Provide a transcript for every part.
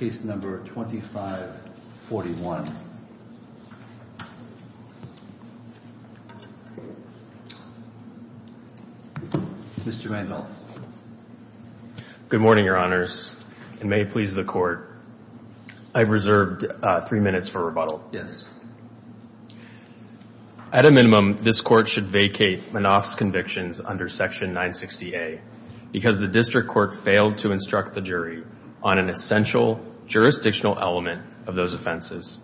case number 2541. Mr. Randolph. Good morning, your honors, and may it please the court. I've reserved three minutes for rebuttal. Yes. At a minimum, this court should vacate Manaf's convictions under section 960A because the district court failed to instruct the jury on an essential jurisdictional element of those offenses.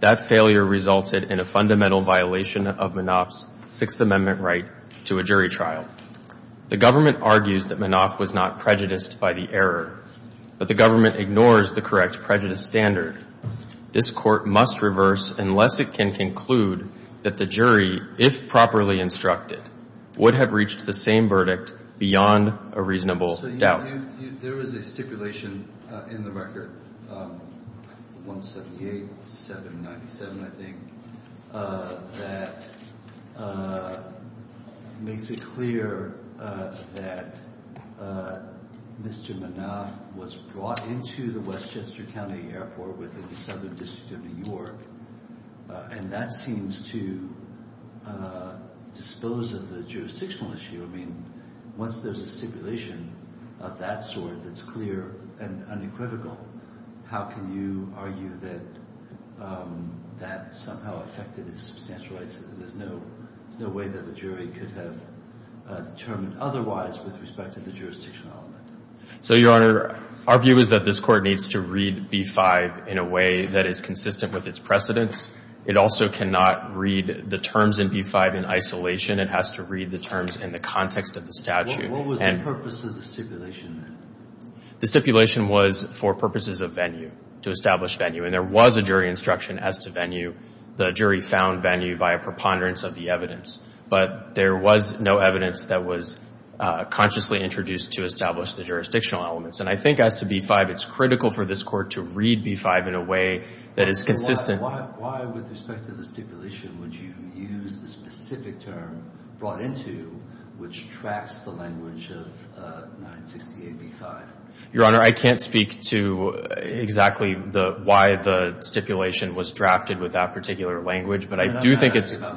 That failure resulted in a fundamental violation of Manaf's Sixth Amendment right to a jury trial. The government argues that Manaf was not prejudiced by the error, but the government ignores the correct prejudice standard. This court must reverse unless it can conclude that the jury, if properly instructed, have reached the same verdict beyond a reasonable doubt. There was a stipulation in the record, 178-797, I think, that makes it clear that Mr. Manaf was brought into the Westchester County Airport within the Southern District of New York, and that seems to dispose of the jurisdictional issue. I mean, once there's a stipulation of that sort that's clear and unequivocal, how can you argue that that somehow affected his substantial rights? There's no way that the jury could have determined otherwise with respect to the jurisdictional element. So, your honor, our view is that this court needs to read B-5 in a way that is consistent with its precedents. It also cannot read the terms in B-5 in isolation. It has to read the terms in the context of the statute. What was the purpose of the stipulation? The stipulation was for purposes of venue, to establish venue, and there was a jury instruction as to venue. The jury found venue by a preponderance of the evidence, but there was no evidence that was consciously introduced to establish the jurisdictional elements, and I think as to B-5, it's critical for this court to read B-5 in a way that is consistent. Why, with respect to the stipulation, would you use the specific term brought into which tracks the language of 968B-5? Your honor, I can't speak to exactly why the stipulation was drafted with that particular language, but I do think it's... What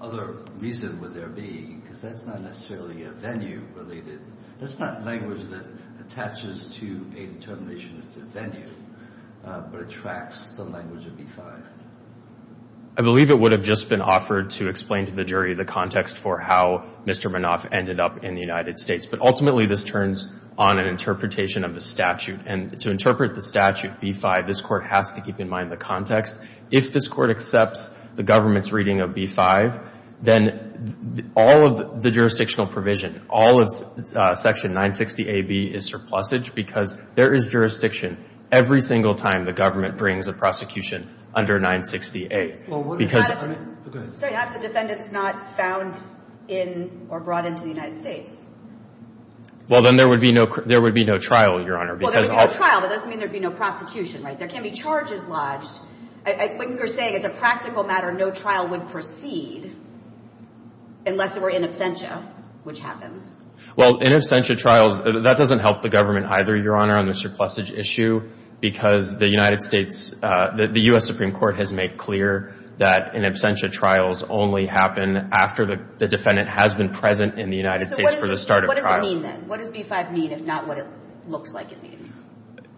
other reason would there be? Because that's not necessarily a venue-related... That's not language that attaches to a determination as to venue, but it tracks the language of B-5. I believe it would have just been offered to explain to the jury the context for how Mr. Manoff ended up in the United States, but ultimately this turns on an interpretation of the statute, and to interpret the statute, B-5, this court has to keep in mind the context. If this court accepts the government's reading of B-5, then all of the jurisdictional provision, all of section 960AB is surplusage because there is jurisdiction every single time the government brings a prosecution under 960A because... Sorry, have the defendants not found in or brought into the United States? Well, then there would be no trial, your honor. Well, there would be no trial, but it doesn't mean there would be no prosecution, right? There can't be charges lodged. What you're saying is a practical matter, no trial would proceed unless there were in absentia, which happens. Well, in absentia trials, that doesn't help the government either, your honor, on the surplusage issue because the United States, the U.S. Supreme Court has made clear that in absentia trials only happen after the defendant has been present in the United States for the start of trial. What does it mean then? What does B-5 mean if not what it looks like it means?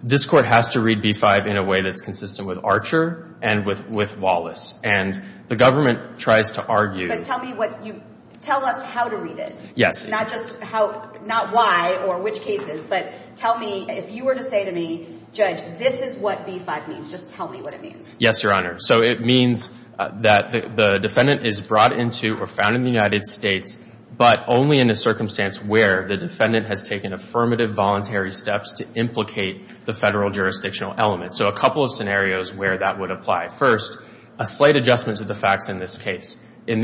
This court has to read B-5 in a way that's consistent with Archer and with Wallace, and the government tries to argue... But tell me what you... Tell us how to read it. Yes. Not just how, not why or which cases, but tell me if you were to say to me, Judge, this is what B-5 means, just tell me what it means. Yes, your honor. So it means that the defendant is brought into or found in the United States, but only in a circumstance where the defendant has taken affirmative voluntary steps to implicate the Federal jurisdictional element. So a couple of scenarios where that would apply. First, a slight adjustment to the facts in this case. In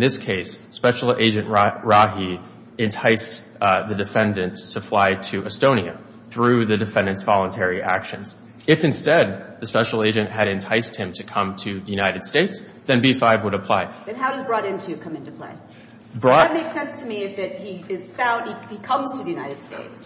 this case, Special Agent Rahi enticed the defendant to fly to Estonia through the defendant's voluntary actions. If instead, the Special Agent had enticed him to come to the United States, then B-5 would apply. Then how does brought into come into play? That makes sense to me if he is found... He comes to the United States.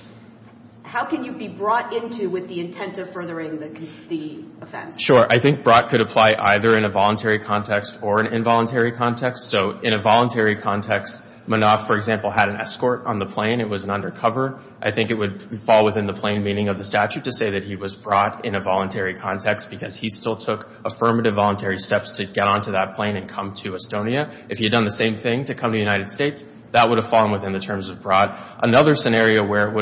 How can you be brought into with the intent of furthering the offense? Sure. I think brought could apply either in a voluntary context or an involuntary context. So in a voluntary context, Manoff, for example, had an escort on the plane. It was an undercover. I think it would fall within the plain meaning of the statute to say that he was brought in a voluntary context because he still took affirmative voluntary steps to get onto that plane and come to Estonia. If he had done the same thing to come to the United States, that would have fallen within the terms of brought. Another scenario where it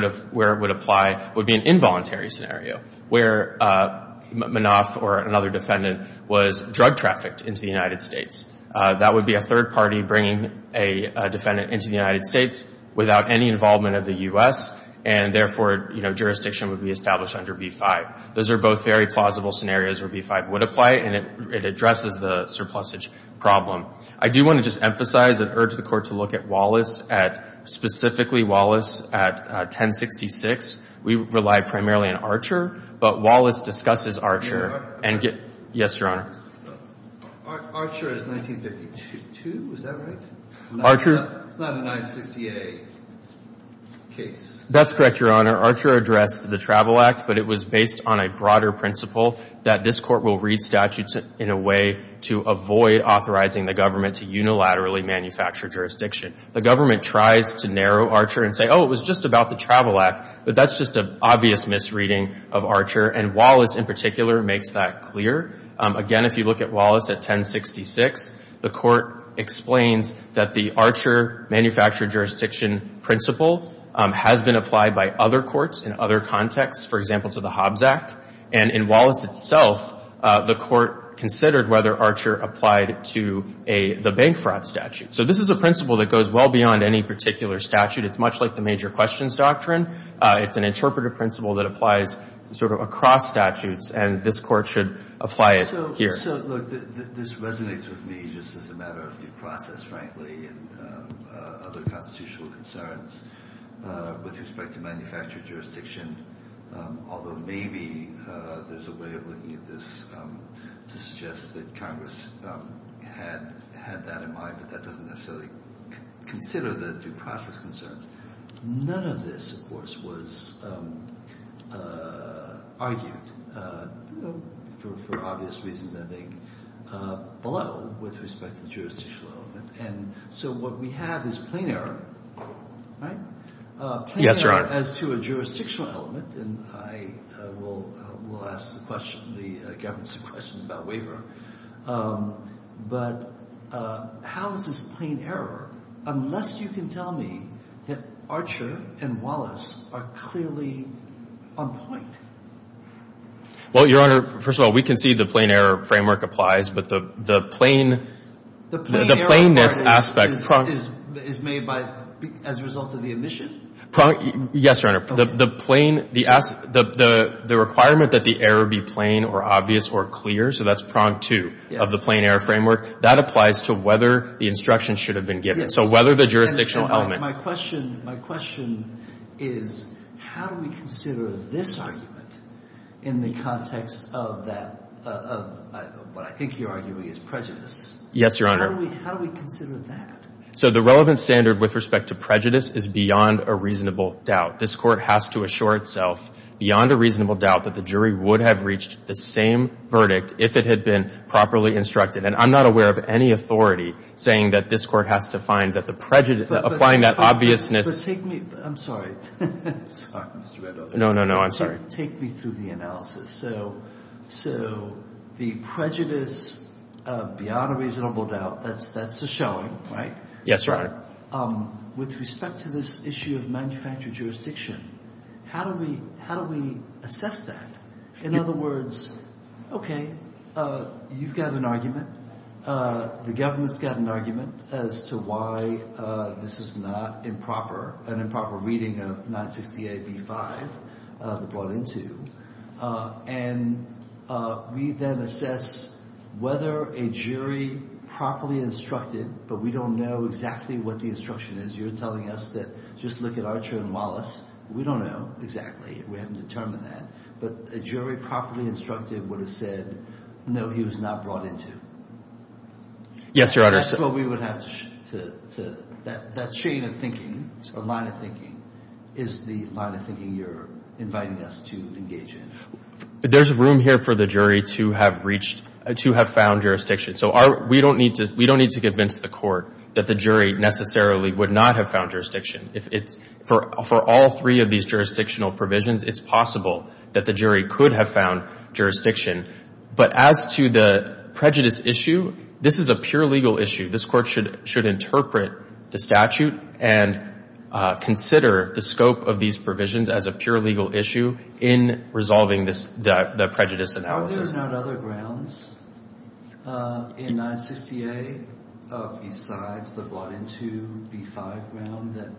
would apply would be an involuntary scenario where Manoff or another defendant was drug trafficked into the United States. That would be a third party bringing a defendant into the United States without any involvement of the U.S. and therefore jurisdiction would be established under B-5. Those are both very plausible scenarios where B-5 would apply and it addresses the problem. I do want to just emphasize and urge the Court to look at Wallace, specifically Wallace at 1066. We rely primarily on Archer, but Wallace discusses Archer. Yes, Your Honor. Archer is 1952, is that right? It's not a 960A case. That's correct, Your Honor. Archer addressed the Travel Act, but it was based on a broader principle that this Court will read statutes in a way to avoid authorizing the government to unilaterally manufacture jurisdiction. The government tries to narrow Archer and say, oh, it was just about the Travel Act, but that's just an obvious misreading of Archer. Wallace, in particular, makes that clear. Again, if you look at Wallace at 1066, the Court explains that the Archer manufactured jurisdiction principle has been applied by other contexts, for example, to the Hobbs Act. And in Wallace itself, the Court considered whether Archer applied to the bank fraud statute. So this is a principle that goes well beyond any particular statute. It's much like the major questions doctrine. It's an interpretive principle that applies sort of across statutes, and this Court should apply it here. So, look, this resonates with me just as a matter of due process, frankly, and other constitutional concerns with respect to manufactured jurisdiction, although maybe there's a way of looking at this to suggest that Congress had that in mind, but that doesn't necessarily consider the due process concerns. None of this, of course, was argued for obvious reasons, I think, below with respect to the jurisdictional element. And so what we have is plain error, right? Yes, Your Honor. As to a jurisdictional element, and I will ask the question, the government's question about waiver, but how is this plain error unless you can tell me that Archer and Wallace are clearly on point? Well, Your Honor, first of all, we can see the plain error framework applies, but the plain the plainness aspect is made by as a result of the admission. Yes, Your Honor. The plain, the requirement that the error be plain or obvious or clear, so that's prong two of the plain error framework, that applies to whether the instruction should have been given. So whether the jurisdictional element. My question is how do we consider this argument in the context of that, what I think you're arguing is prejudice? Yes, Your Honor. How do we consider that? So the relevant standard with respect to prejudice is beyond a reasonable doubt. This Court has to assure itself beyond a reasonable doubt that the jury would have reached the same verdict if it had been properly instructed. And I'm not aware of any authority saying that this Court has to find that the prejudice, applying that obviousness. But take me, I'm sorry. Sorry, Mr. Reddow. No, no, no, I'm sorry. Take me through the analysis. So the prejudice beyond a reasonable doubt, that's a showing, right? Yes, Your Honor. With respect to this issue of manufactured jurisdiction, how do we assess that? In other words, okay, you've got an argument. The government's got an argument as to why this is not an improper reading of 960AB5, the brought into. And we then assess whether a jury properly instructed, but we don't know exactly what the instruction is. You're telling us that just look at Archer and Wallace. We don't know exactly. We haven't determined that. But a jury properly instructed would have said, no, he was not brought into. Yes, Your Honor. That's what we would have to, that chain of thinking, or line of thinking, is the line of thinking you're inviting us to engage in. But there's room here for the jury to have reached, to have found jurisdiction. So we don't need to convince the Court that the jury necessarily would not have found jurisdiction. For all three of these jurisdictional provisions, it's possible that the jury could have found jurisdiction. But as to the prejudice issue, this is a pure legal issue. This Court should interpret the statute and consider the scope of these provisions as a pure legal issue in resolving the prejudice analysis. Are there not other grounds in 960A besides the brought into B5 ground that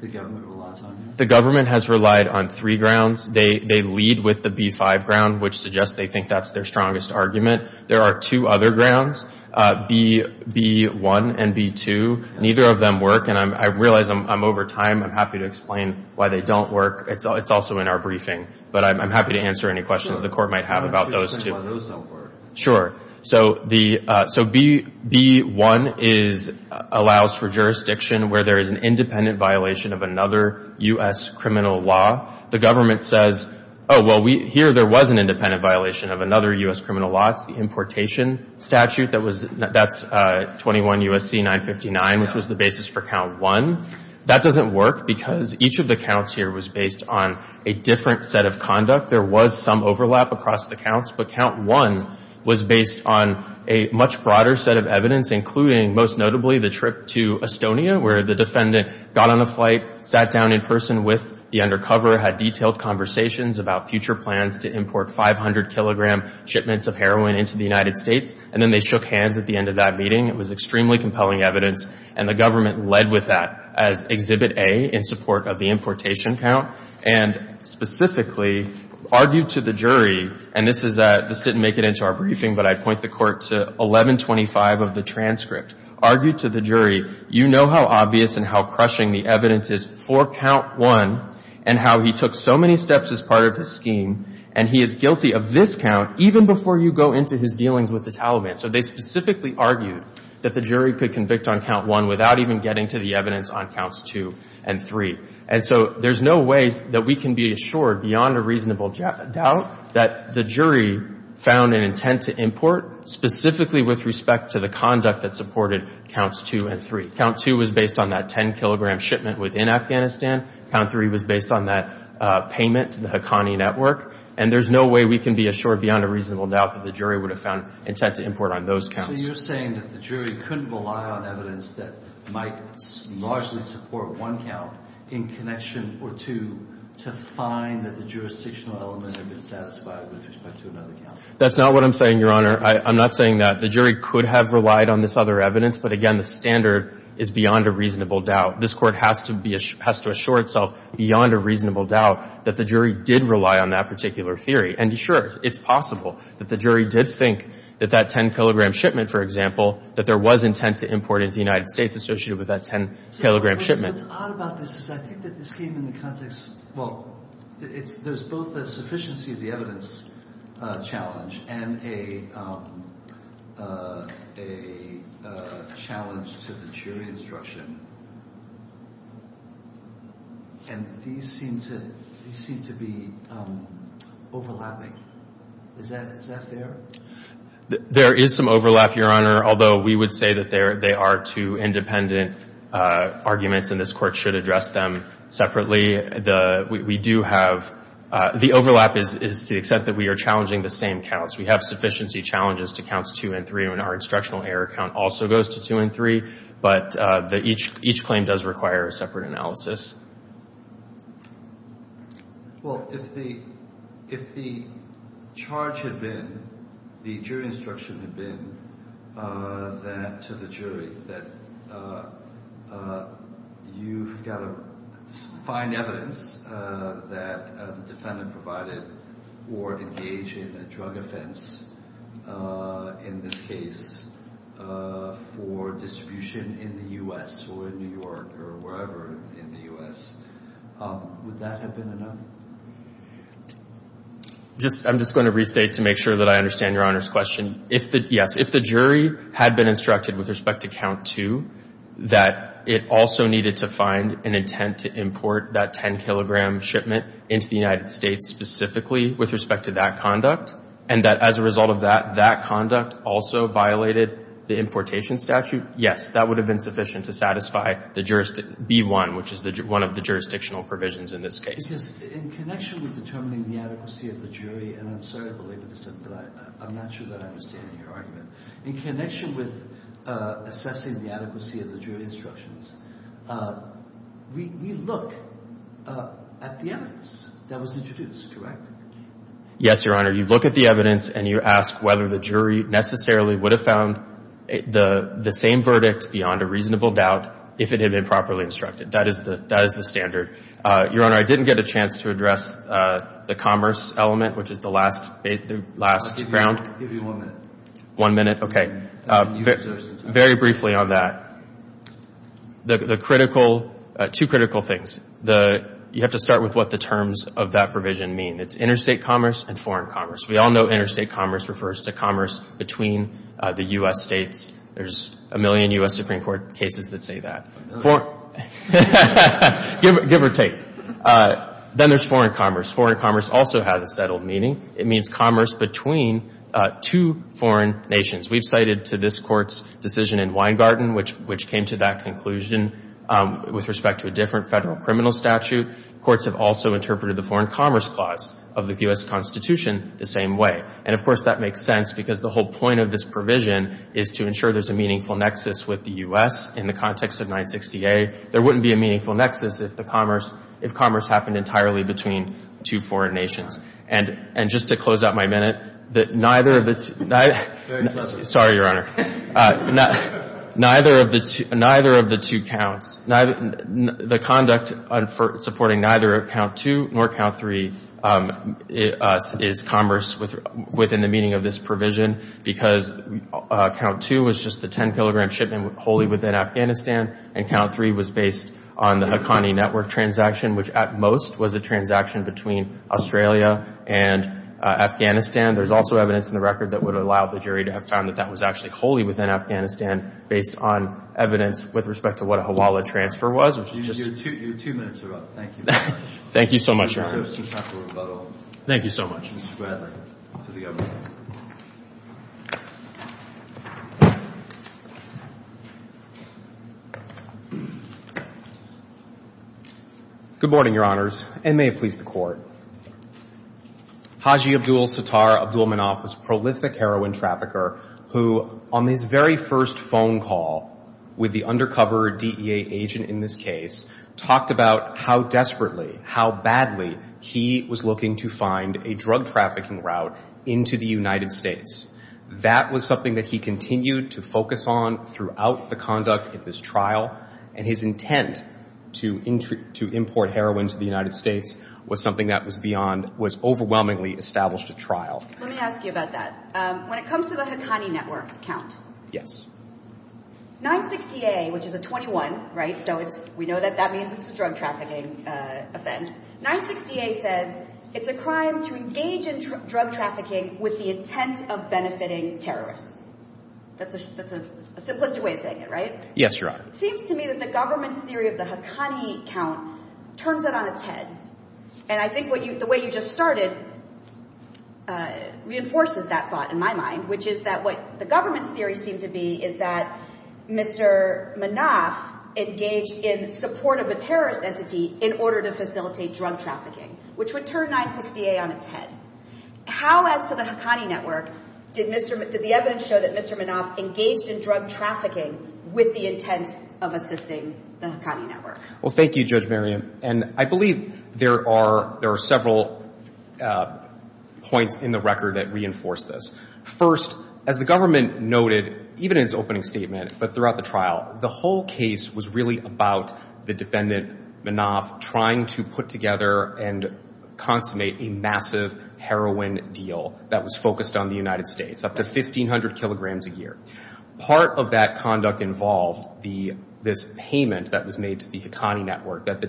the government relies on? The government has relied on three grounds. They lead with the B5 ground, which suggests they think that's their strongest argument. There are two other grounds, B1 and B2. Neither of them work. And I realize I'm over time. I'm happy to explain why they don't work. It's also in our briefing. But I'm happy to answer any questions the Court might have about those two. Explain why those don't work. Sure. So B1 allows for jurisdiction where there is an independent violation of another U.S. criminal law. The government says, oh, well, here there was an independent violation of another U.S. criminal law. It's the importation statute. That's 21 U.S.C. 959, which was the basis for Count 1. That doesn't work because each of the counts here was based on a different set of conduct. There was some overlap across the counts. But Count 1 was based on a much broader set of evidence, including, most notably, the trip to Estonia, where the defendant got on a flight, sat down in person with the undercover, had detailed conversations about future plans to import 500-kilogram shipments of heroin into the United States, and then they shook hands at the end of that meeting. It was extremely compelling evidence. And the government led with that as Exhibit A in support of the importation count, and specifically argued to the jury, and this didn't make it into our briefing, but I'd point the Court to 1125 of the transcript, argued to the jury, you know how obvious and how crushing the evidence is for Count 1, and how he took so many steps as part of his scheme, and he is guilty of this count even before you go into his dealings with the Taliban. So they specifically argued that the jury could convict on Count 1 without even getting to the evidence on Counts 2 and 3. And so there's no way that we can be assured beyond a reasonable doubt that the jury found an intent to import, specifically with respect to the conduct that supported Counts 2 and 3. Count 2 was based on that 10-kilogram shipment within Afghanistan. Count 3 was based on that payment to the Haqqani Network. And there's no way we can be assured beyond a reasonable doubt that the jury would have found intent to import on those counts. So you're saying that the jury couldn't rely on evidence that might largely support one count in connection or two to find that the jurisdictional element had been satisfied with respect to another count? That's not what I'm saying, Your Honor. I'm not saying that. The jury could have relied on this other evidence. But again, the standard is beyond a reasonable doubt. This Court has to assure itself beyond a reasonable doubt that the jury did rely on that particular theory. And sure, it's possible that the jury did think that that 10-kilogram shipment, for example, that there was intent to import into the United States associated with that 10-kilogram shipment. What's odd about this is I think that this came in the context — well, there's both a sufficiency of the evidence challenge and a challenge to the jury instruction. And these seem to be overlapping. Is that fair? There is some overlap, Your Honor, although we would say that they are two independent arguments and this Court should address them separately. We do have — the overlap is to accept that we are challenging the same counts. We have sufficiency challenges to counts two and three. And our instructional error count also goes to two and three. But each claim does require a separate analysis. Well, if the charge had been — the jury instruction had been that — to the jury that you've got to find evidence that the defendant provided or engage in a drug offense in this case for distribution in the U.S. or in New York or wherever in the U.S., would that have been enough? I'm just going to restate to make sure that I understand Your Honor's question. Yes. If the jury had been instructed with respect to count two that it also needed to find an intent to import that 10-kilogram shipment into the United States specifically with respect to that conduct, and that as a result of that, that conduct also violated the importation statute, yes, that would have been sufficient to satisfy the jurisdiction — B-1, which is one of the jurisdictional provisions in this case. Because in connection with determining the adequacy of the jury — and I'm sorry to but I'm not sure that I understand your argument — in connection with assessing the adequacy of the jury instructions, we look at the evidence that was introduced, correct? Yes, Your Honor. You look at the evidence and you ask whether the jury necessarily would have found the same verdict beyond a reasonable doubt if it had been properly instructed. That is the standard. Your Honor, I didn't get a chance to address the commerce element, which is the last ground. I'll give you one minute. One minute? Okay. Very briefly on that. The critical — two critical things. You have to start with what the terms of that provision mean. It's interstate commerce and foreign commerce. We all know interstate commerce refers to commerce between the U.S. states. There's a million U.S. Supreme Court cases that say that. Give or take. Then there's foreign commerce. Foreign commerce also has a settled meaning. It means commerce between two foreign nations. We've cited to this Court's decision in Weingarten, which came to that conclusion with respect to a different federal criminal statute. Courts have also interpreted the foreign commerce clause of the U.S. Constitution the same way. And, of course, that makes sense because the whole point of this provision is to ensure there's a meaningful nexus with the U.S. in the context of 960A. There wouldn't be a meaningful nexus if commerce happened entirely between two foreign nations. And just to close out my minute, that neither of the — sorry, Your Honor — neither of the two counts — the conduct supporting neither count two nor count three is commerce within the meaning of this provision because count two was just the 10-kilogram shipment wholly within Afghanistan, and count three was based on the Haqqani Network transaction, which at most was a transaction between Australia and Afghanistan. There's also evidence in the record that would allow the jury to have found that that was actually wholly within Afghanistan based on evidence with respect to what a Hawala transfer was, which is just — Your two minutes are up. Thank you very much. Thank you so much, Your Honor. Thank you so much. Good morning, Your Honors, and may it please the Court. Haji Abdul-Sattar Abdulmanap was a prolific heroin trafficker who, on his very first phone call with the undercover DEA agent in this case, talked about how desperately, how badly he was looking to find a drug trafficking route into the United States. That was something that he continued to and his intent to import heroin to the United States was something that was beyond — was overwhelmingly established at trial. Let me ask you about that. When it comes to the Haqqani Network count — Yes. 960A, which is a 21, right? So it's — we know that that means it's a drug trafficking offense. 960A says it's a crime to engage in drug trafficking with the intent of benefiting terrorists. That's a simplistic way of saying it, right? Yes, Your Honor. Seems to me that the government's theory of the Haqqani count turns that on its head. And I think what you — the way you just started reinforces that thought in my mind, which is that what the government's theory seems to be is that Mr. Manaf engaged in support of a terrorist entity in order to facilitate drug trafficking, which would turn 960A on its head. How, as to the Haqqani Network, did Mr. — did the evidence show that Mr. Manaf engaged in trafficking with the intent of assisting the Haqqani Network? Well, thank you, Judge Merriam. And I believe there are — there are several points in the record that reinforce this. First, as the government noted, even in its opening statement, but throughout the trial, the whole case was really about the defendant, Manaf, trying to put together and consummate a massive heroin deal that was up to 1,500 kilograms a year. Part of that conduct involved this payment that was made to the Haqqani Network that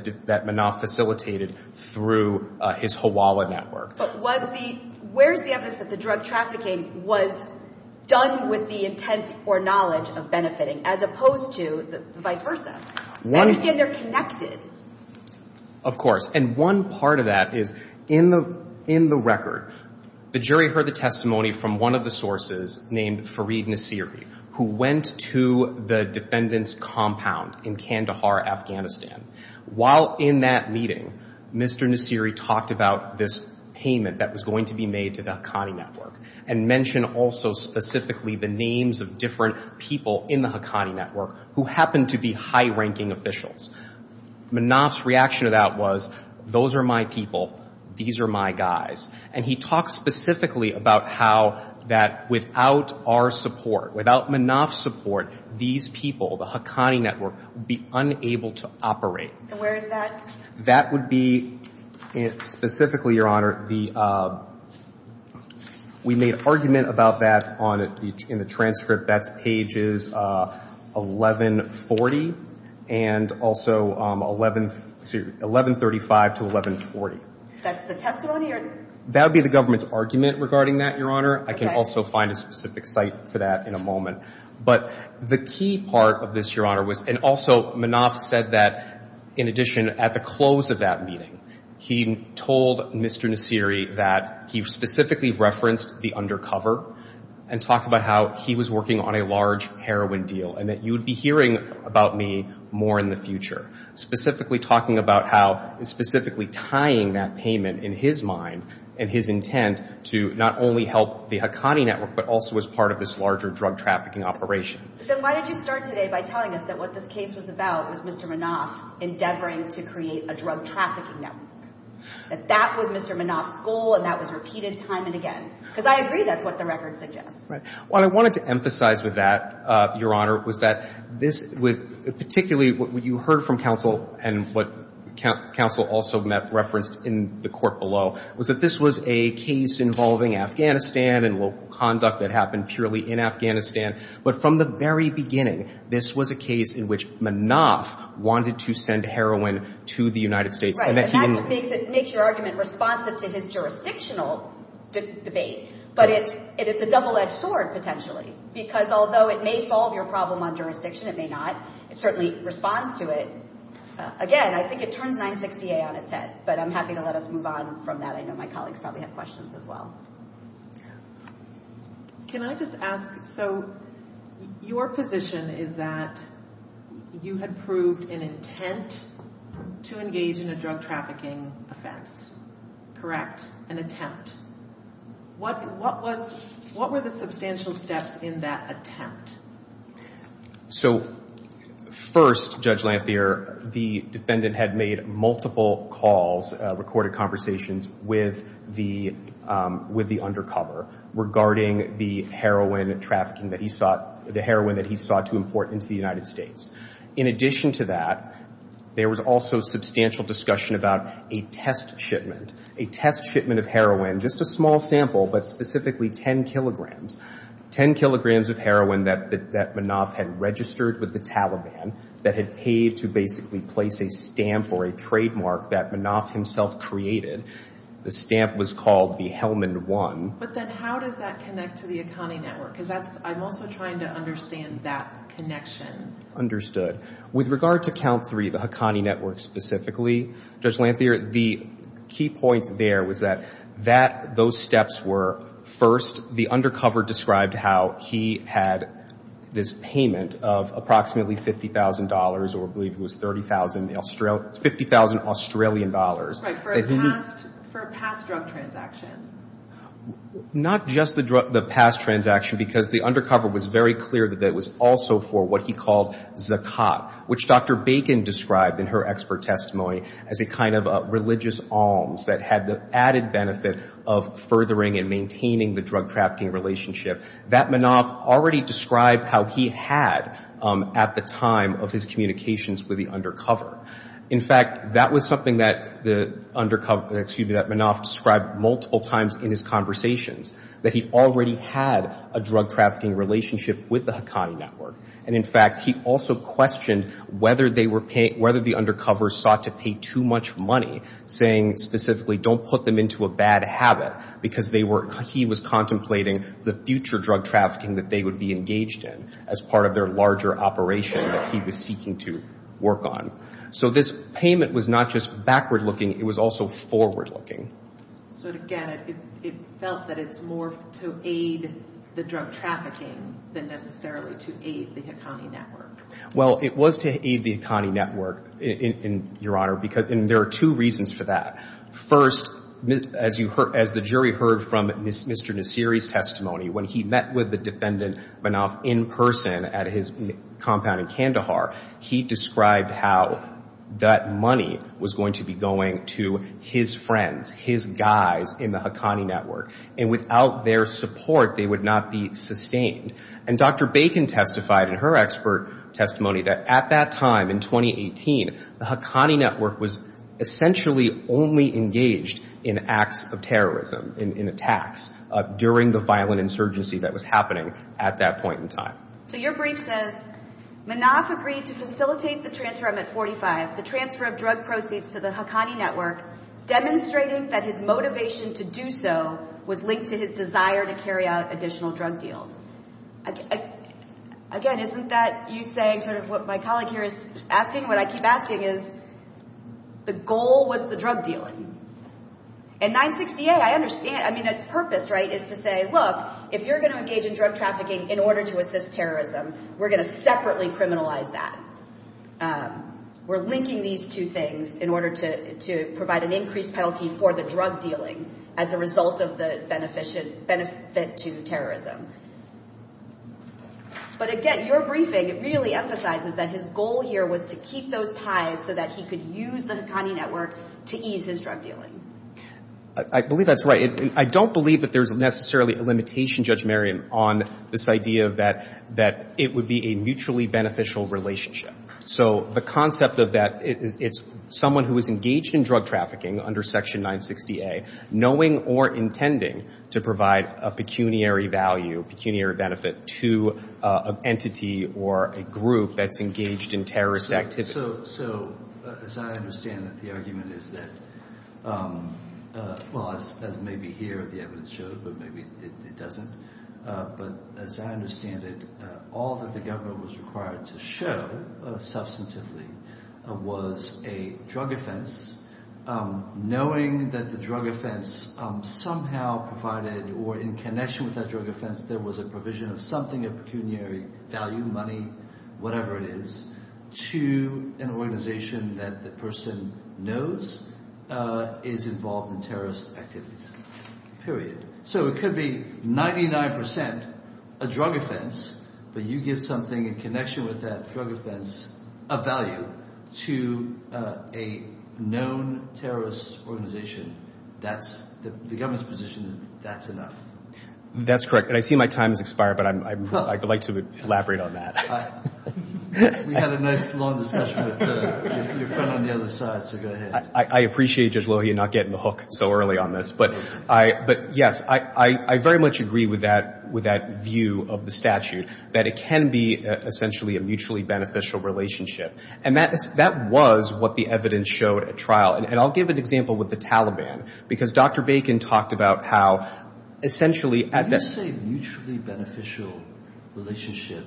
Manaf facilitated through his Hawala Network. But was the — where's the evidence that the drug trafficking was done with the intent or knowledge of benefiting, as opposed to the vice versa? I understand they're connected. Of course. And one part of that is, in the — in the record, the jury heard the testimony from one of the sources named Fareed Nasiri, who went to the defendant's compound in Kandahar, Afghanistan. While in that meeting, Mr. Nasiri talked about this payment that was going to be made to the Haqqani Network, and mentioned also specifically the names of different people in the Haqqani Network who happened to be high-ranking officials. Manaf's reaction to that was, those are my people, these are my guys. And he talked specifically about how that, without our support, without Manaf's support, these people, the Haqqani Network, would be unable to operate. And where is that? That would be — specifically, Your Honor, the — we made an argument about that on — in the transcript. That's pages 1140 and also 11 — excuse me, 1135 to 1140. That's the testimony, or — That would be the government's argument regarding that, Your Honor. Okay. I can also find a specific site for that in a moment. But the key part of this, Your Honor, was — and also, Manaf said that, in addition, at the close of that meeting, he told Mr. Nasiri that he specifically referenced the undercover and talked about how he was working on a large heroin deal, and that you would be hearing about me more in the future, specifically talking about how — and specifically tying that payment in his mind and his intent to not only help the Haqqani Network, but also as part of this larger drug trafficking operation. Then why did you start today by telling us that what this case was about was Mr. Manaf endeavoring to create a drug trafficking network, that that was Mr. Manaf's goal, and that was repeated time and again? Because I agree that's what the record suggests. Right. What I wanted to emphasize with that, Your Honor, was that this — with — particularly, what you heard from counsel and what counsel also met — referenced in the court below, was that this was a case involving Afghanistan and local conduct that happened purely in Afghanistan. But from the very beginning, this was a case in which Manaf wanted to send heroin to the United States, and that he didn't — Right. And that's the thing that makes your argument responsive to his jurisdictional debate. But it's a double-edged sword, potentially, because although it may solve your problem on jurisdiction, it may not. It certainly responds to it. Again, I think it turns 960A on its head, but I'm happy to let us move on from that. I know my colleagues probably have questions as well. Can I just ask — so, your position is that you had proved an intent to engage in a drug trafficking offense, correct? An attempt. What was — what were the substantial steps in that attempt? So, first, Judge Lanthier, the defendant had made multiple calls, recorded conversations, with the — with the undercover regarding the heroin trafficking that he sought — the heroin that he sought to import into the United States. In addition to that, there was also substantial discussion about a test shipment — a test shipment of heroin, just a small sample, but specifically 10 kilograms — 10 kilograms of heroin that Manaf had registered with the Taliban, that had paid to basically place a stamp or a trademark that Manaf himself created, the stamp was called the Helmand 1. But then how does that connect to the Haqqani Network? Because that's — I'm also trying to understand that connection. Understood. With regard to Count 3, the Haqqani Network specifically, Judge Lanthier, the key points there was that that — those steps were, first, the undercover described how he had this payment of approximately $50,000, or I believe it was $30,000 — $50,000 Australian dollars. Right. For a past — for a past drug transaction. Not just the past transaction, because the undercover was very clear that it was also for what he called zakat, which Dr. Bacon described in her expert testimony as a kind of religious alms that had the added benefit of furthering and maintaining the drug trafficking relationship that Manaf already described how he had at the time of his communications with the undercover. In fact, that was something that the undercover — excuse me, that Manaf described multiple times in his conversations, that he already had a drug trafficking relationship with the Haqqani Network. And, in fact, he also questioned whether they were — whether the undercover sought to pay too much money, saying specifically, don't put them into a bad habit, because they were — he was contemplating the future drug trafficking that they would be engaged in as part of their larger operation that he was seeking to work on. So this payment was not just backward-looking, it was also forward-looking. So, again, it felt that it's more to aid the drug trafficking than necessarily to aid the Haqqani Network. Well, it was to aid the Haqqani Network, Your Honor, because — and there are two reasons for that. First, as you — as the jury heard from Mr. Nassiri's testimony, when he met with the defendant, Manaf, in person at his compound in Kandahar, he described how that money was going to be going to his friends, his guys in the Haqqani Network. And without their support, they would not be sustained. And Dr. Bacon testified in her expert testimony that at that time, in 2018, the Haqqani Network was essentially only engaged in acts of terrorism, in attacks, during the violent insurgency that was happening at that point in time. So your brief says, Manaf agreed to facilitate the transfer — I'm at 45 — the transfer of drug proceeds to the Haqqani Network, demonstrating that his motivation to do so was linked to his desire to carry out additional drug deals. Again, isn't that you saying sort of what my colleague here is asking? What I keep asking is, the goal was the drug dealing. And 960A, I understand — I mean, its purpose, right, is to say, look, if you're going to engage in drug trafficking in order to assist terrorism, we're going to separately criminalize that. We're linking these two things in order to provide an increased penalty for the drug dealing as a result of the benefit to terrorism. But again, your briefing really emphasizes that his goal here was to keep those ties so that he could use the Haqqani Network to ease his drug dealing. I believe that's right. I don't believe that there's necessarily a limitation, Judge Merriam, on this idea that it would be a mutually beneficial relationship. So the concept of that, it's someone who is engaged in drug trafficking under Section 960A, knowing or intending to provide a pecuniary value, pecuniary benefit to an entity or a group that's engaged in terrorist activity. So as I understand it, the argument is that — well, as maybe here the evidence shows, but maybe it doesn't. But as I understand it, all that the government was required to show substantively was a drug offense, knowing that the drug offense somehow provided or in connection with that drug offense, there was a provision of something, a pecuniary value, money, whatever it is, to an organization that the person knows is involved in terrorist activities, period. So it could be 99% a drug offense, but you give something in connection with that drug offense a value to a known terrorist organization. The government's position is that's enough. That's correct. And I see my time has expired, but I'd like to elaborate on that. We had a nice long discussion with your friend on the other side, so go ahead. I appreciate Judge Lohey not getting the hook so early on this, but yes, I very much agree with that view of the statute, that it can be essentially a mutually beneficial relationship. And that was what the evidence showed at trial. And I'll give an example with the Taliban, because Dr. Bacon talked about how essentially — When you say mutually beneficial relationship,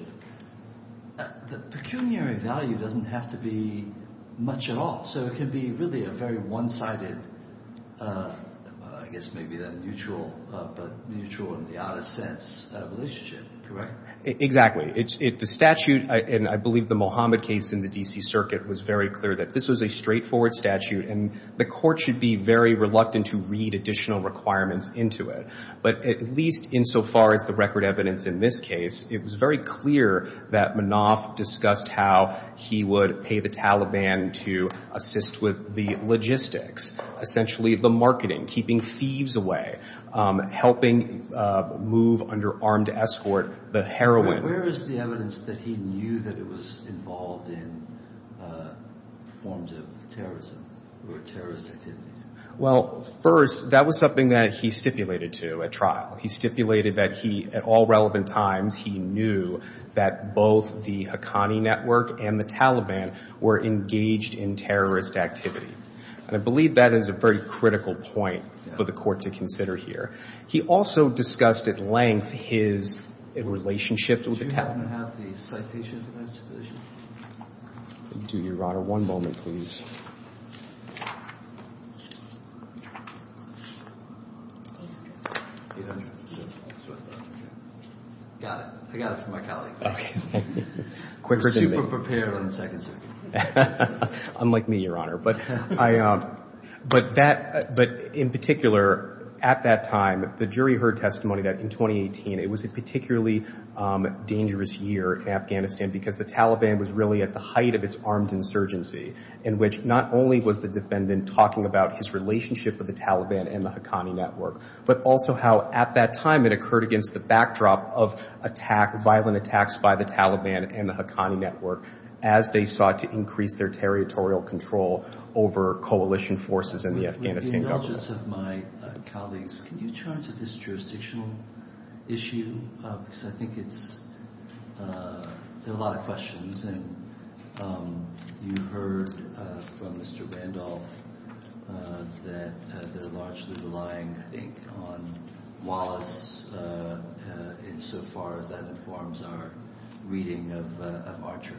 the pecuniary value doesn't have to be much at all. So it can be really a very one-sided, I guess maybe then mutual, but mutual in the oddest sense, relationship, correct? Exactly. The statute, and I believe the Mohammed case in the D.C. Circuit was very clear that this was a straightforward statute, and the court should be very reluctant to read additional requirements into it. But at least insofar as the record evidence in this case, it was very clear that Manoff discussed how he would pay the Taliban to assist with the logistics, essentially the marketing, keeping thieves away, helping move under armed escort the heroin. Where is the evidence that he knew that it was involved in forms of terrorism or terrorist activities? Well, first, that was something that he stipulated to at trial. He stipulated that he, at all relevant times, he knew that both the Haqqani network and the Taliban were engaged in terrorist activity. And I believe that is a very critical point for the court to consider here. He also discussed at length his relationship with the — Do you happen to have the citation for that stipulation? Do your honor. One moment, please. Got it. I got it from my colleague. You're super prepared on the second circuit. Unlike me, your honor. But I — but that — but in particular, at that time, the jury heard testimony that in 2018, it was a particularly dangerous year in Afghanistan because the Taliban was really at the height of its armed insurgency, in which not only was the defendant talking about his relationship with the Taliban and the Haqqani network, but also how, at that time, it occurred against the backdrop of attack — violent attacks by the Taliban and the Haqqani network as they sought to increase their territorial control over coalition forces in the Afghanistan government. With the indulgence of my colleagues, can you turn to this jurisdictional issue? Because I think it's — there are a lot of questions. And you heard from Mr. Randolph that they're largely relying, I think, on Wallace insofar as that informs our reading of Archer.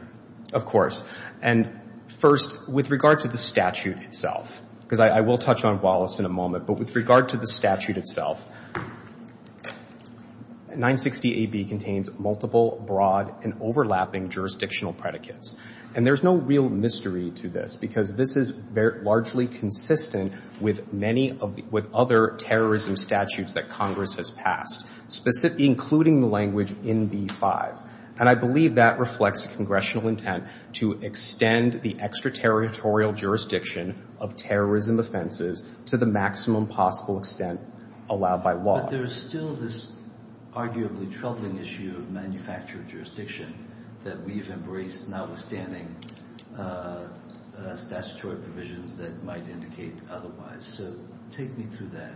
Of course. And first, with regard to the statute itself, because I will touch on Wallace in a moment, but with regard to the statute itself, 960AB contains multiple broad and overlapping jurisdictional predicates. And there's no real mystery to this, because this is largely consistent with many of — with other terrorism statutes that Congress has passed, specifically including the language NB-5. And I believe that reflects congressional intent to extend the extraterritorial jurisdiction of terrorism offenses to the maximum possible extent allowed by law. But there's still this arguably troubling issue of manufactured jurisdiction that we've embraced, notwithstanding statutory provisions that might indicate otherwise. So take me through that.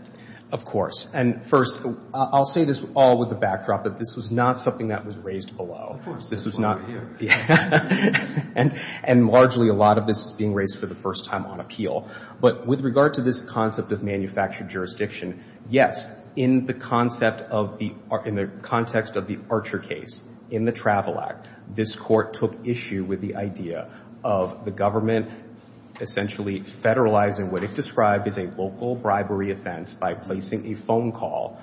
Of course. And first, I'll say this all with a backdrop, that this was not something that was raised below. Of course. This was not — And largely, a lot of this is being raised for the first time on appeal. But with regard to this concept of manufactured jurisdiction, yes, in the concept of the — in the context of the Archer case, in the Travel Act, this Court took issue with the idea of the government essentially federalizing what it described as a local bribery offense by placing a phone call,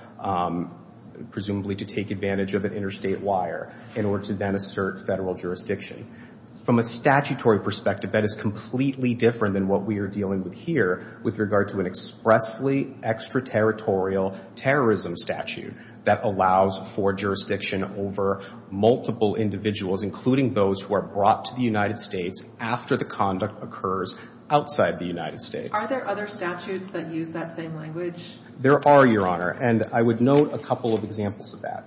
presumably to take advantage of an interstate wire, in order to then assert federal jurisdiction. From a statutory perspective, that is completely different than what we are dealing with here with regard to an expressly extraterritorial terrorism statute that allows for jurisdiction over multiple individuals, including those who are brought to the United States after the conduct occurs outside the United States. Are there other statutes that use that same language? There are, Your Honor. And I would note a couple of examples of that.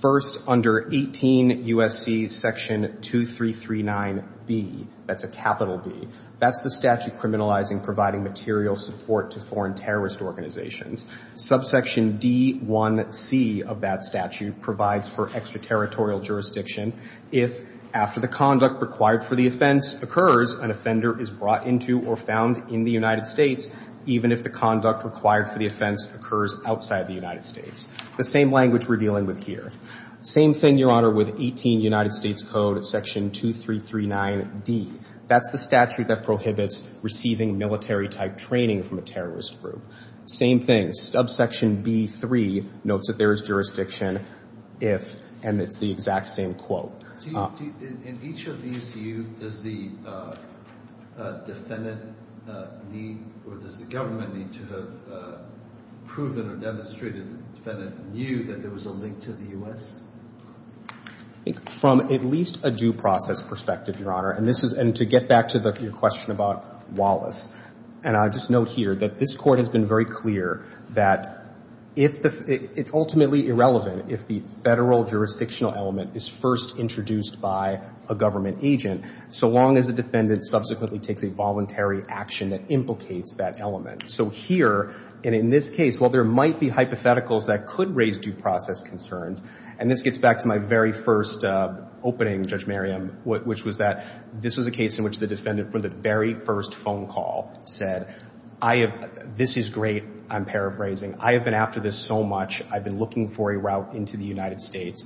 First, under 18 U.S.C. Section 2339B — that's a capital B — that's the statute providing material support to foreign terrorist organizations. Subsection D1C of that statute provides for extraterritorial jurisdiction if, after the conduct required for the offense occurs, an offender is brought into or found in the United States, even if the conduct required for the offense occurs outside the United States. The same language we're dealing with here. Same thing, Your Honor, with 18 U.S.C. Section 2339D. That's the statute that prohibits receiving military-type training from a terrorist group. Same thing. Subsection B3 notes that there is jurisdiction if — and it's the exact same quote. In each of these, do you — does the defendant need or does the government need to have proven or demonstrated that the defendant knew that there was a link to the U.S.? From at least a due process perspective, Your Honor. And this is — and to get back to the question about Wallace, and I'll just note here that this Court has been very clear that it's ultimately irrelevant if the federal jurisdictional element is first introduced by a government agent, so long as the defendant subsequently takes a voluntary action that implicates that element. So here, and in this case, while there might be hypotheticals that could raise due process concerns — and this gets back to my very first opening, Judge Merriam, which was that this was a case in which the defendant, for the very first phone call, said, I have — this is great. I'm paraphrasing. I have been after this so much. I've been looking for a route into the United States.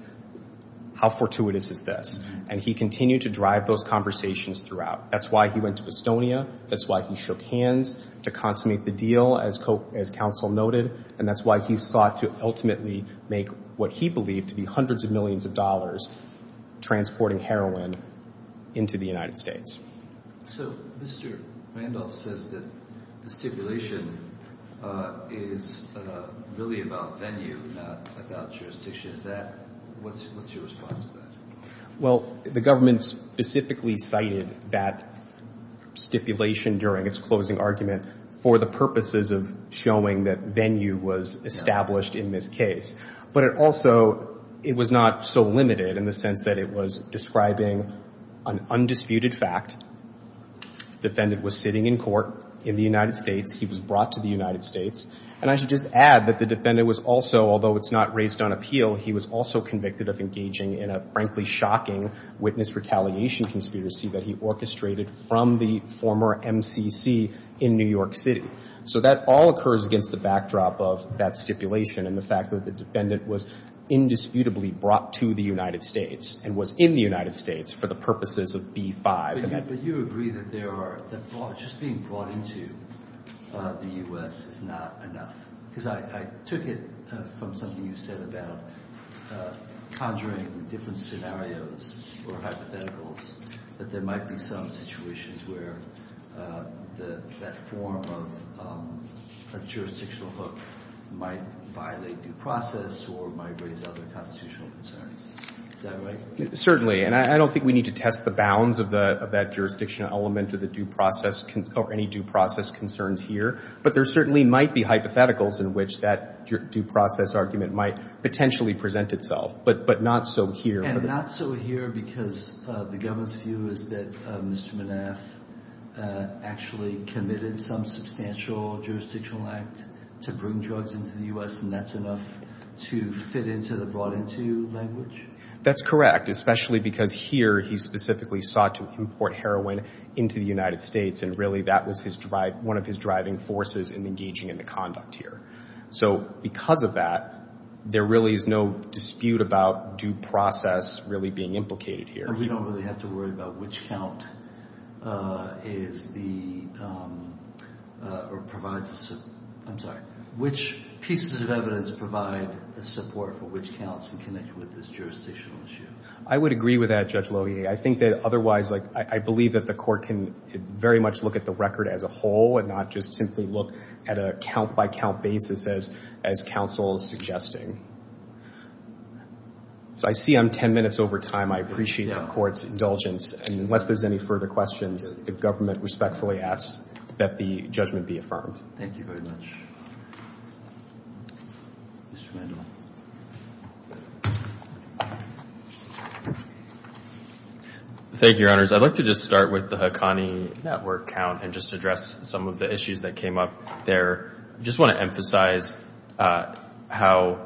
How fortuitous is this? And he continued to drive those conversations throughout. That's why he went to Estonia. That's why he shook hands to consummate the deal, as counsel noted. And that's why he sought to ultimately make what he believed to be hundreds of millions of dollars transporting heroin into the United States. So, Mr. Randolph says that the stipulation is really about venue, not about jurisdiction. Is that — what's your response to that? Well, the government specifically cited that stipulation during its closing argument for the purposes of showing that venue was established in this case. But it also — it was not so limited in the sense that it was describing an undisputed fact. Defendant was sitting in court in the United States. He was brought to the United States. And I should just add that the defendant was also — although it's not raised on appeal, he was also convicted of engaging in a, frankly, shocking witness retaliation conspiracy that he orchestrated from the former MCC in New York City. So that all occurs against the backdrop of that stipulation and the fact that the defendant was indisputably brought to the United States and was in the United States for the purposes of B-5. But you agree that there are — that just being brought into the U.S. is not enough? Because I took it from something you said about conjuring different scenarios or hypotheticals, that there might be some situations where that form of jurisdictional hook might violate due process or might raise other constitutional concerns. Is that right? Certainly. And I don't think we need to test the bounds of that jurisdictional element or the due process or any due process concerns here. But there certainly might be hypotheticals in which that due process argument might potentially present itself. But not so here. Not so here because the government's view is that Mr. Manaf actually committed some substantial jurisdictional act to bring drugs into the U.S. and that's enough to fit into the brought into language? That's correct, especially because here he specifically sought to import heroin into the United States. And really that was his — one of his driving forces in engaging in the conduct here. So because of that, there really is no dispute about due process really being implicated here. And we don't really have to worry about which count is the — or provides the — I'm sorry. Which pieces of evidence provide the support for which counts in connection with this jurisdictional issue? I would agree with that, Judge Lohier. I think that otherwise, like, I believe that the court can very much look at the record as a whole and not just simply look at a count-by-count basis as counsel is suggesting. So I see I'm 10 minutes over time. I appreciate the court's indulgence. And unless there's any further questions, the government respectfully asks that the judgment be affirmed. Thank you very much. Thank you, Your Honors. I'd like to just start with the Haqqani Network count and just address some of the issues that came up there. I just want to emphasize how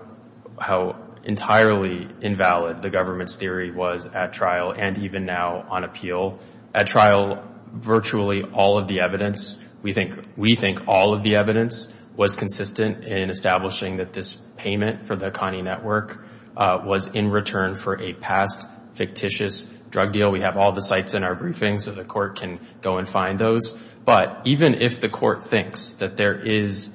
entirely invalid the government's theory was at trial and even now on appeal. At trial, virtually all of the evidence — we think all of the evidence was consistent in establishing that this payment for the Haqqani Network was in return for a past fictitious drug deal. We have all the sites in our briefing, so the court can go and find those. But even if the court thinks that there is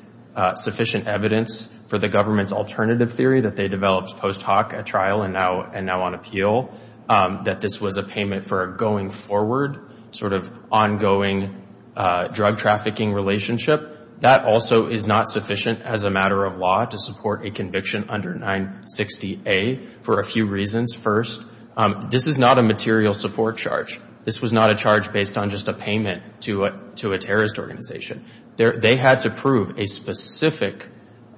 sufficient evidence for the government's alternative theory that they developed post-Haq at trial and now on appeal, that this was a payment for a going-forward, sort of ongoing drug-trafficking relationship, that also is not sufficient as a matter of law to support a conviction under 960A for a few reasons. First, this is not a material support charge. This was not a charge based on just a payment to a terrorist organization. They had to prove a specific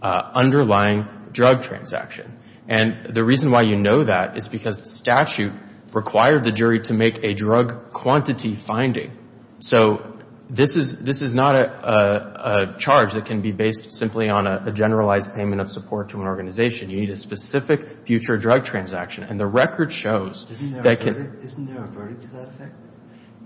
underlying drug transaction. And the reason why you know that is because the statute required the jury to make a drug quantity finding. So this is not a charge that can be based simply on a generalized payment of support to an organization. You need a specific future drug transaction. And the record shows that can — Isn't there a verdict to that effect?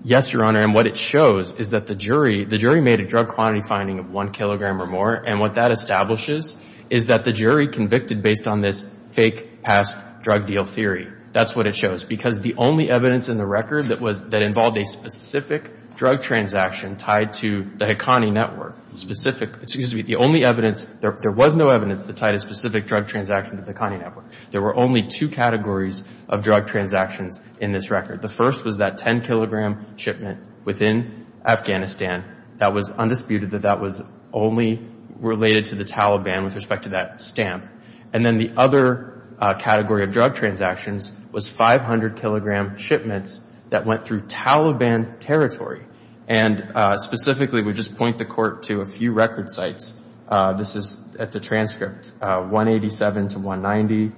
Yes, Your Honor. And what it shows is that the jury — the jury made a drug quantity finding of one kilogram or more. And what that establishes is that the jury convicted based on this fake past drug deal theory. That's what it shows. Because the only evidence in the record that was — that involved a specific drug transaction tied to the Haqqani Network, specific — excuse me — the only evidence — there was no evidence that tied a specific drug transaction to the Haqqani Network. There were only two categories of drug transactions in this record. The first was that 10-kilogram shipment within Afghanistan that was undisputed that that was only related to the Taliban with respect to that stamp. And then the other category of drug transactions was 500-kilogram shipments that went through Taliban territory. And specifically, we just point the court to a few record sites. This is at the transcript. 187 to 190,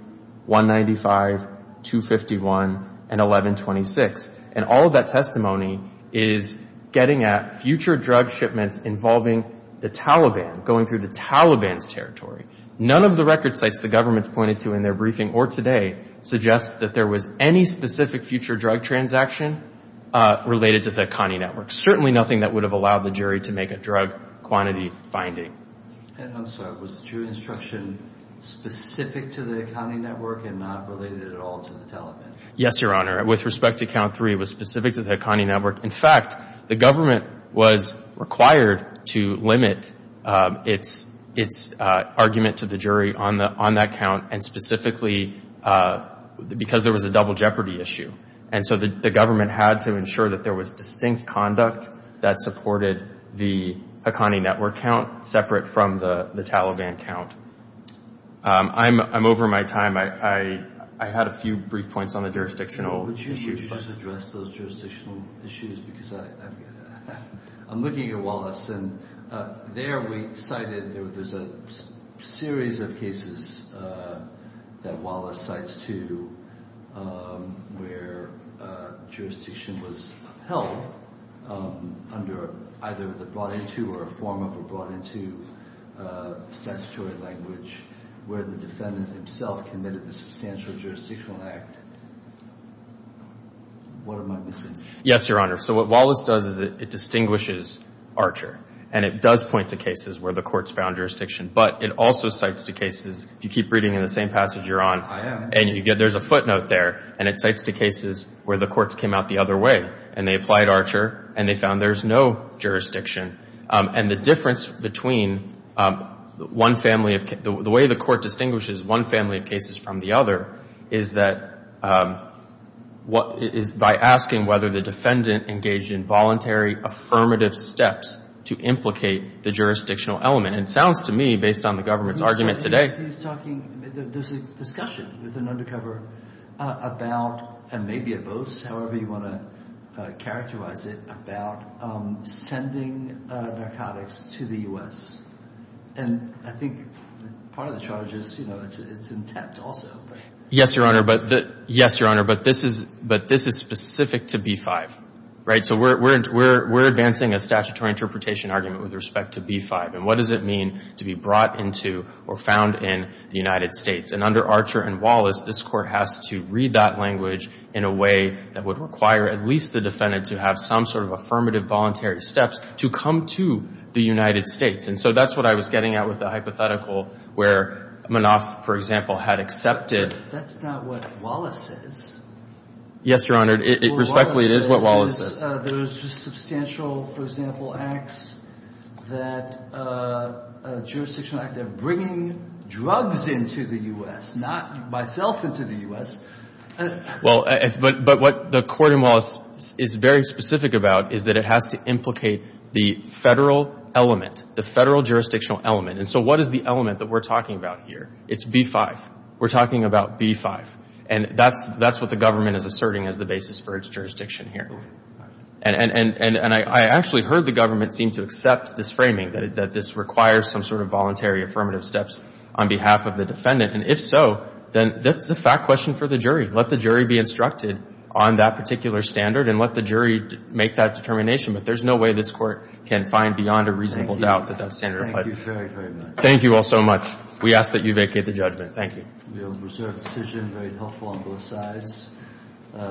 195, 251, and 1126. And all of that testimony is getting at future drug shipments involving the Taliban, going through the Taliban's territory. None of the record sites the government's pointed to in their briefing or today suggests that there was any specific future drug transaction related to the Haqqani Network. Certainly nothing that would have allowed the jury to make a drug quantity finding. And I'm sorry. Was the true instruction specific to the Haqqani Network and not related at all to the Taliban? Yes, Your Honor. With respect to count three, it was specific to the Haqqani Network. In fact, the government was required to limit its argument to the jury on that count and specifically because there was a double jeopardy issue. And so the government had to ensure that there was distinct conduct that supported the Haqqani Network count separate from the Taliban count. I'm over my time. I had a few brief points on the jurisdictional issues. Would you just address those jurisdictional issues because I'm looking at Wallace. And there we cited there's a series of cases that Wallace cites too where jurisdiction was held under either the brought into or a form of a brought into statutory language where the defendant himself committed the substantial jurisdictional act. What am I missing? Yes, Your Honor. So what Wallace does is it distinguishes Archer. And it does point to cases where the courts found jurisdiction. But it also cites the cases. If you keep reading in the same passage you're on. I am. And you get there's a footnote there. And it cites the cases where the courts came out the other way. And they applied Archer. And they found there's no jurisdiction. And the difference between one family of the way the court distinguishes one family of the other is that what is by asking whether the defendant engaged in voluntary affirmative steps to implicate the jurisdictional element. And it sounds to me based on the government's argument today. He's talking there's a discussion with an undercover about and maybe it boasts however you want to characterize it about sending narcotics to the U.S. And I think part of the charge is it's intact also. Yes, Your Honor. But this is specific to B-5. Right? So we're advancing a statutory interpretation argument with respect to B-5. And what does it mean to be brought into or found in the United States? And under Archer and Wallace, this court has to read that language in a way that would require at least the defendant to have some sort of affirmative voluntary steps to come to the United States. And so that's what I was getting at with the hypothetical where Manoff, for example, had accepted. That's not what Wallace says. Yes, Your Honor. Respectfully, it is what Wallace says. There was just substantial, for example, acts that jurisdictional act of bringing drugs into the U.S., not myself into the U.S. Well, but what the court in Wallace is very specific about is that it has to implicate the federal element, the federal jurisdictional element. And so what is the element that we're talking about here? It's B-5. We're talking about B-5. And that's what the government is asserting as the basis for its jurisdiction here. And I actually heard the government seem to accept this framing, that this requires some sort of voluntary affirmative steps on behalf of the defendant. And if so, then that's the fact question for the jury. Let the jury be instructed on that particular standard and let the jury make that determination. But there's no way this court can find beyond a reasonable doubt that that's standard. Thank you very, very much. Thank you all so much. We ask that you vacate the judgment. Thank you.